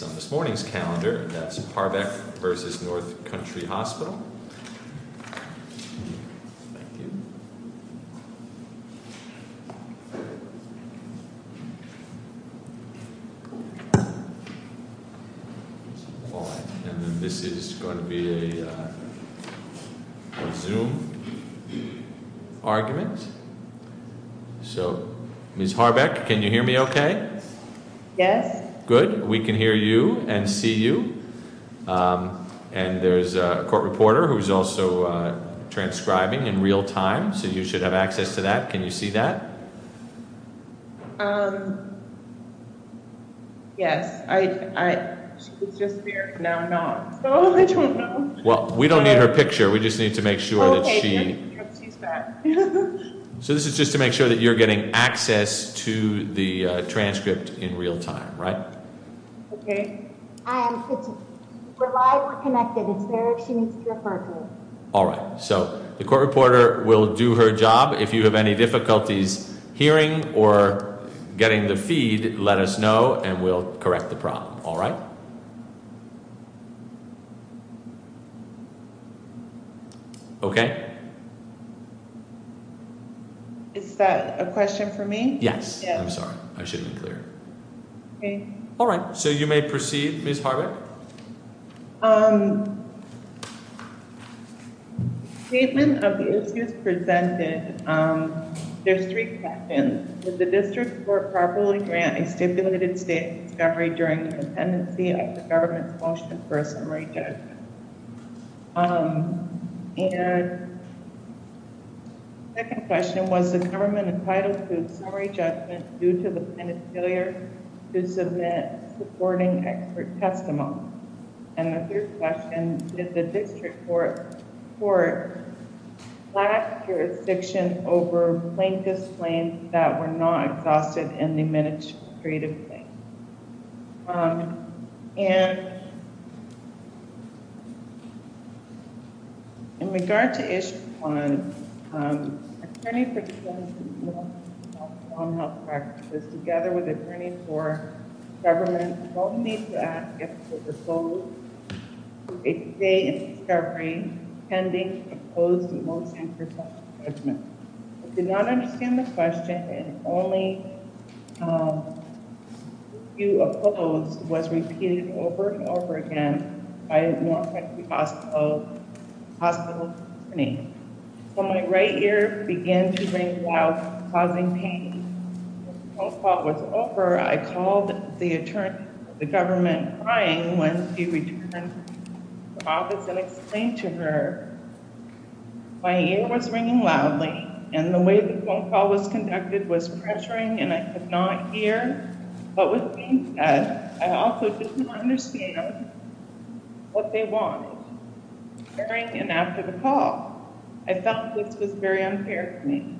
on this morning's calendar. That's Harbec v. North Country Hospital. This is going to be a zoom argument. So Ms. Harbec, can you hear me okay? Yes. Good. We can hear you and see you. And there's a court reporter who's also transcribing in real time, so you should have access to that. Can you see that? Yes. It's just there. Now I'm not. Oh, I don't know. Well, we don't need her picture. We just need to make sure that she's back. So this is just to make sure that you're getting access to the transcript in real time, right? Okay. We're live. We're connected. It's there if she needs to refer to it. All right. So the court reporter will do her job. If you have any difficulties hearing or getting the feed, let us know and we'll correct the problem. All right. Okay. Is that a question for me? Yes. I'm sorry. I shouldn't be clear. Okay. All right. So you may proceed, Ms. Harbec. Statement of the issues presented, there's three questions. Did the district court properly grant a stipulated state discovery during the pendency of the government's motion for a summary judgment? And second question, was the government entitled to a summary judgment due to the failure to submit supporting expert testimony? And the third question, did the district court lack jurisdiction over plaintiff's claims that were not exhausted in the administrative claim? Um, and in regard to issue one, um, attorney for non-health practices together with attorney for government don't need to ask if the result of a state discovery pending to propose the motion for a summary judgment. I did not understand the question and only, um, if you oppose was repeated over and over again by a more effective hospital, hospital attorney. So my right ear began to ring loud, causing pain. When the phone call was over, I called the attorney of the government crying when he returned to the office and explained to her, my ear was ringing loudly and the way the phone call was conducted was pressuring and I could not hear what was being said. I also didn't understand what they wanted during and after the call. I felt this was very unfair to me.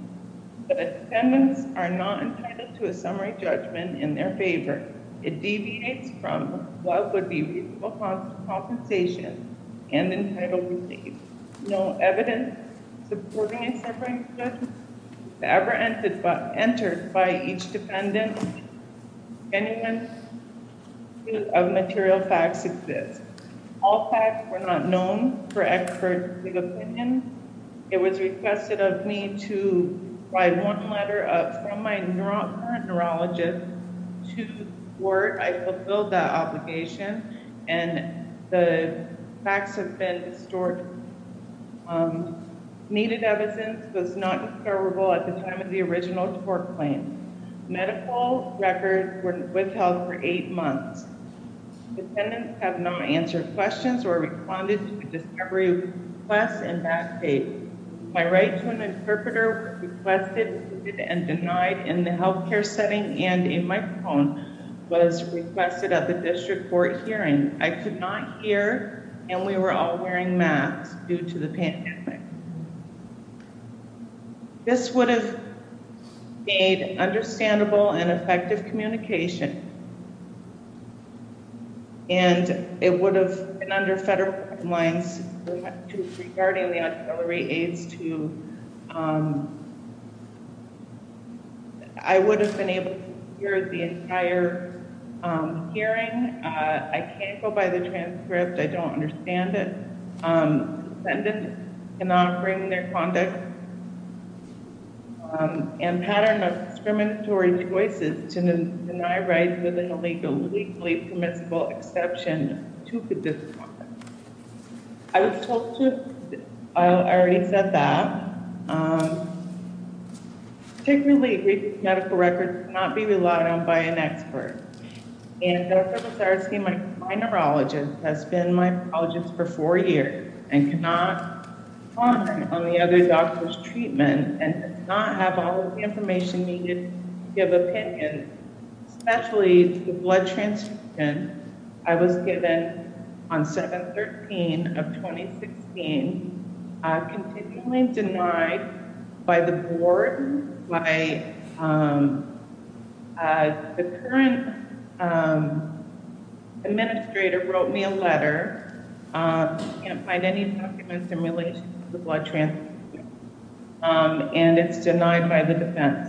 The defendants are not entitled to a summary judgment in their favor. It deviates from what would be reasonable compensation and entitled relief. No evidence supporting a summary judgment was ever entered by each defendant. Genuine material facts exist. All facts were not known for expert opinion. It was requested of me to write one letter from my current neurologist to court. I fulfilled that obligation and the um, needed evidence was not discoverable at the time of the original court claim. Medical records were withheld for eight months. Defendants have not answered questions or responded to the discovery of requests in that case. My right to an interpreter was requested and denied in the healthcare setting and a microphone was requested at the district court hearing. I could not hear and we were all wearing masks due to the pandemic. This would have made understandable and effective communication and it would have been under federal guidelines regarding the auxiliary aids to um, I would have been able to hear the entire hearing. I can't go by the transcript, I don't understand it. Defendants cannot bring their conduct and pattern of discriminatory choices to deny rights within a legally permissible exception to the discipline. I was told to, I already said that, um, particularly medical records cannot be relied on by an expert. And Dr. Basarsky, my neurologist, has been my neurologist for four years and cannot comment on the other doctor's treatment and does not have all the information needed to give opinion, especially to the blood transcription. I was given on 7-13 of 2016, continually denied by the board. My, um, uh, the current, um, administrator wrote me a letter, um, can't find any documents in relation to the blood transcription, um, and it's denied by the defense.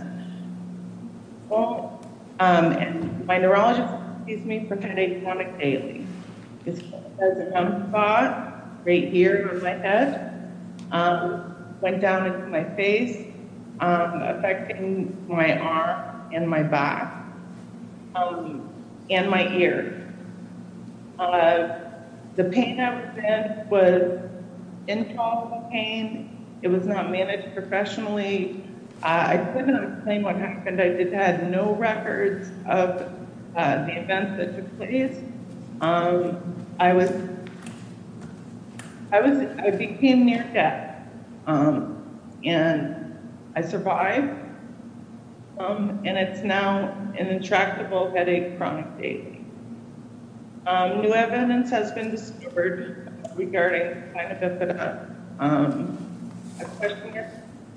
Well, um, and my neurologist sees me pretending to panic daily. There's a numb spot right here on my head, um, going down into my face, um, affecting my arm and my back, um, and my ear. Uh, the pain I was in was intolerable pain. It was not managed professionally. I couldn't explain what happened. I just had no records of, uh, the events that took place. Um, I was, I was, I became near death, um, and I survived, um, and it's now an intractable headache, chronic pain. Um, new evidence has been discovered regarding, um,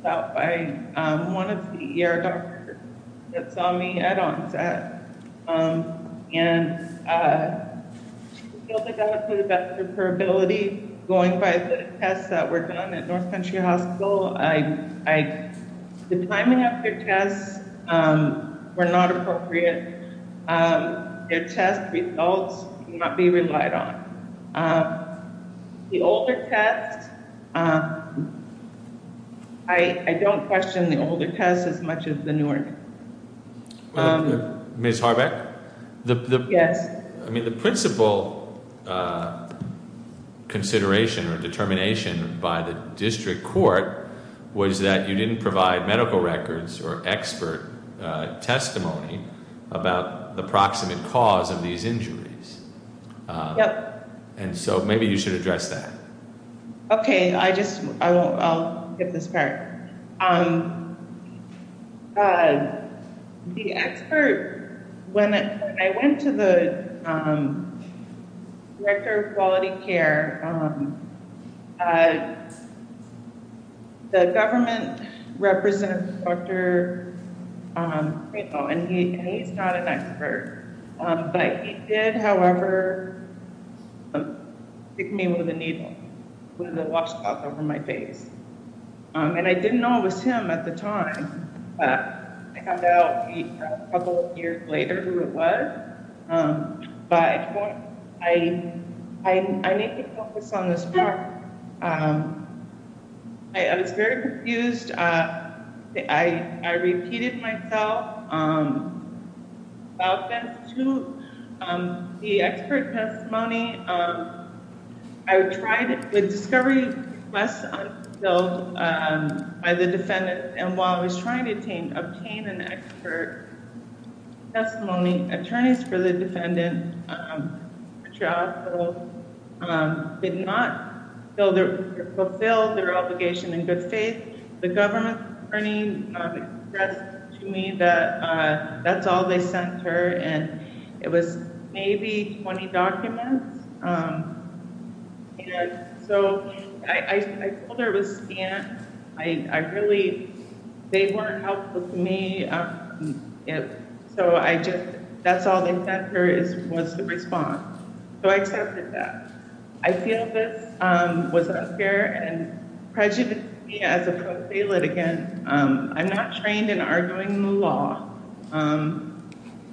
by, um, one of the ER doctors that saw me at onset, um, and, uh, she feels I got to the best of her ability going by the tests that were done at North Country Hospital. I, I, the timing of their tests, um, were not appropriate. Um, their test results cannot be relied on. Um, the older test, uh, I, I don't question the older test as much as the newer. Um, Ms. Harbeck? Yes. I mean, the principal, uh, consideration or determination by the district court was that you didn't provide medical records or expert, uh, testimony about the proximate cause of these injuries. Yep. And so maybe you should address that. Okay. I just, I won't, I'll get this part. Um, uh, the expert, when I went to the, um, director of quality care, um, uh, um, the government representative, Dr. Um, and he, and he's not an expert, um, but he did, however, pick me with a needle with a washcloth over my face. Um, and I didn't know it was him at the time, but I found out a couple of years later who it was. Um, but I, I, I need to focus on this part. Um, I, I was very confused. Uh, I, I repeated myself, um, about that to, um, the expert testimony. Um, I would try to, with discovery less, um, so, um, by the defendant, and while I was trying to obtain, obtain an expert testimony, attorneys for the defendant, um, did not fill their, fulfill their obligation in good faith. The government attorney, um, expressed to me that, uh, that's all they sent her. And it was maybe 20 documents. Um, and so I, I, I told her it was scant. I, I really, they weren't helpful to me. Um, so I just, that's all they sent her is, was the response. So I accepted that. I feel this, um, was unfair and prejudiced me as a pro se litigant. Um, I'm not trained in arguing the law. Um,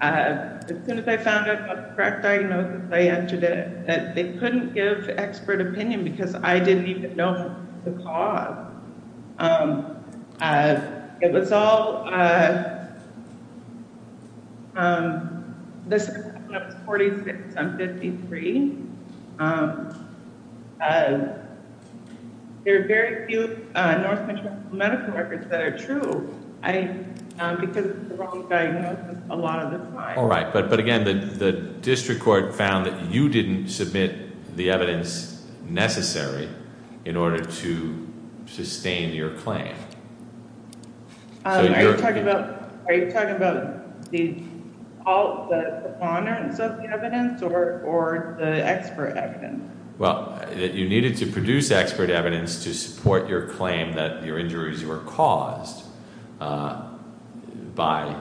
uh, as soon as I found out about the correct diagnosis, I entered it, that they couldn't give expert opinion because I didn't even know the cause. Um, uh, it was all, uh, um, this 46 53. Um, uh, there are very few North Metro medical records that are true. I, because the wrong diagnosis, a lot of the time. All right. But, but again, the district court found that you didn't submit the evidence necessary in order to sustain your claim. Um, are you talking about, are you talking about the, all the ponderance of the evidence or, or the expert evidence? Well, that you needed to produce expert evidence to support your claim that your injuries were caused, uh, by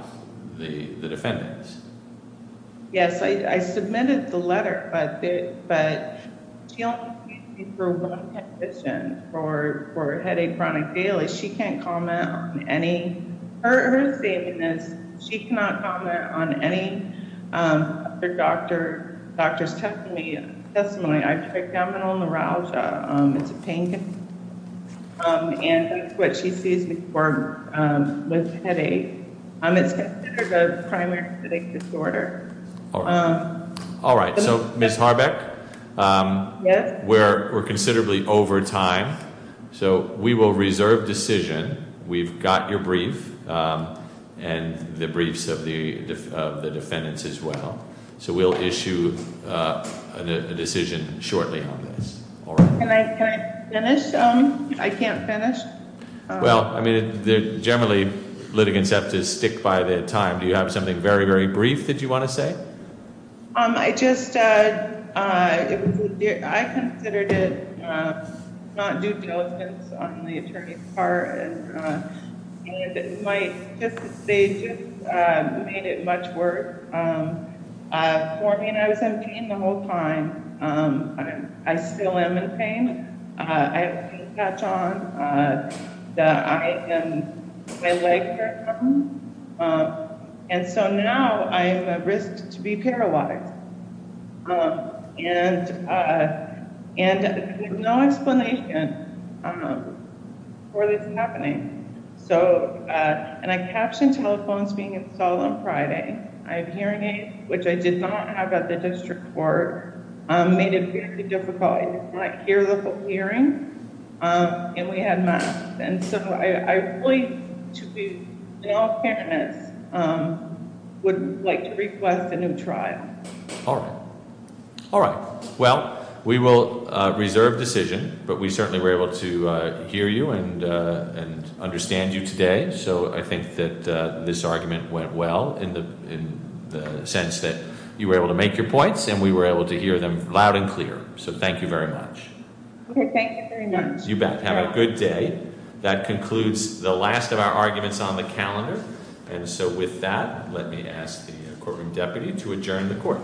the defendants. Yes. I, I submitted the letter, but she only sees me for one condition for headache chronic daily. She can't comment on any, her statement is she cannot comment on any, um, other doctor, doctor's testimony, testimony. I have abdominal neuralgia. Um, it's a pain. Um, and that's what she sees me for, with headache. Um, it's considered a primary headache disorder. All right. All right. So Miss Harbeck, um, where we're considerably over time. So we will reserve decision. We've got your brief, um, and the briefs of the, of the defendants as well. So we'll issue a decision shortly on this. All right. Can I finish? Um, I can't finish. Well, I mean, they're generally litigants have to stick by their time. Do you have something very, very brief that you want to say? Um, I just, uh, uh, I considered it, uh, not due diligence on the attorney's part. And, uh, I still am in pain. Uh, I have a pain patch on, uh, that I am, my leg hurts. Um, and so now I'm at risk to be paralyzed. Um, and, uh, and no explanation, um, for this happening. So, uh, and I captioned telephones being in Salem Friday. I have hearing aids, which I did not have at the court. Um, made it very difficult. I hear the hearing. Um, and we had not. And so I wait to be, um, would like to request a new trial. All right. All right. Well, we will reserve decision, but we certainly were able to hear you and, uh, and understand you today. So I think that this argument went well in the sense that you were able to make your points and we were able to hear them loud and clear. So thank you very much. You bet. Have a good day. That concludes the last of our arguments on the calendar. And so with that, let me ask the courtroom deputy to adjourn the court.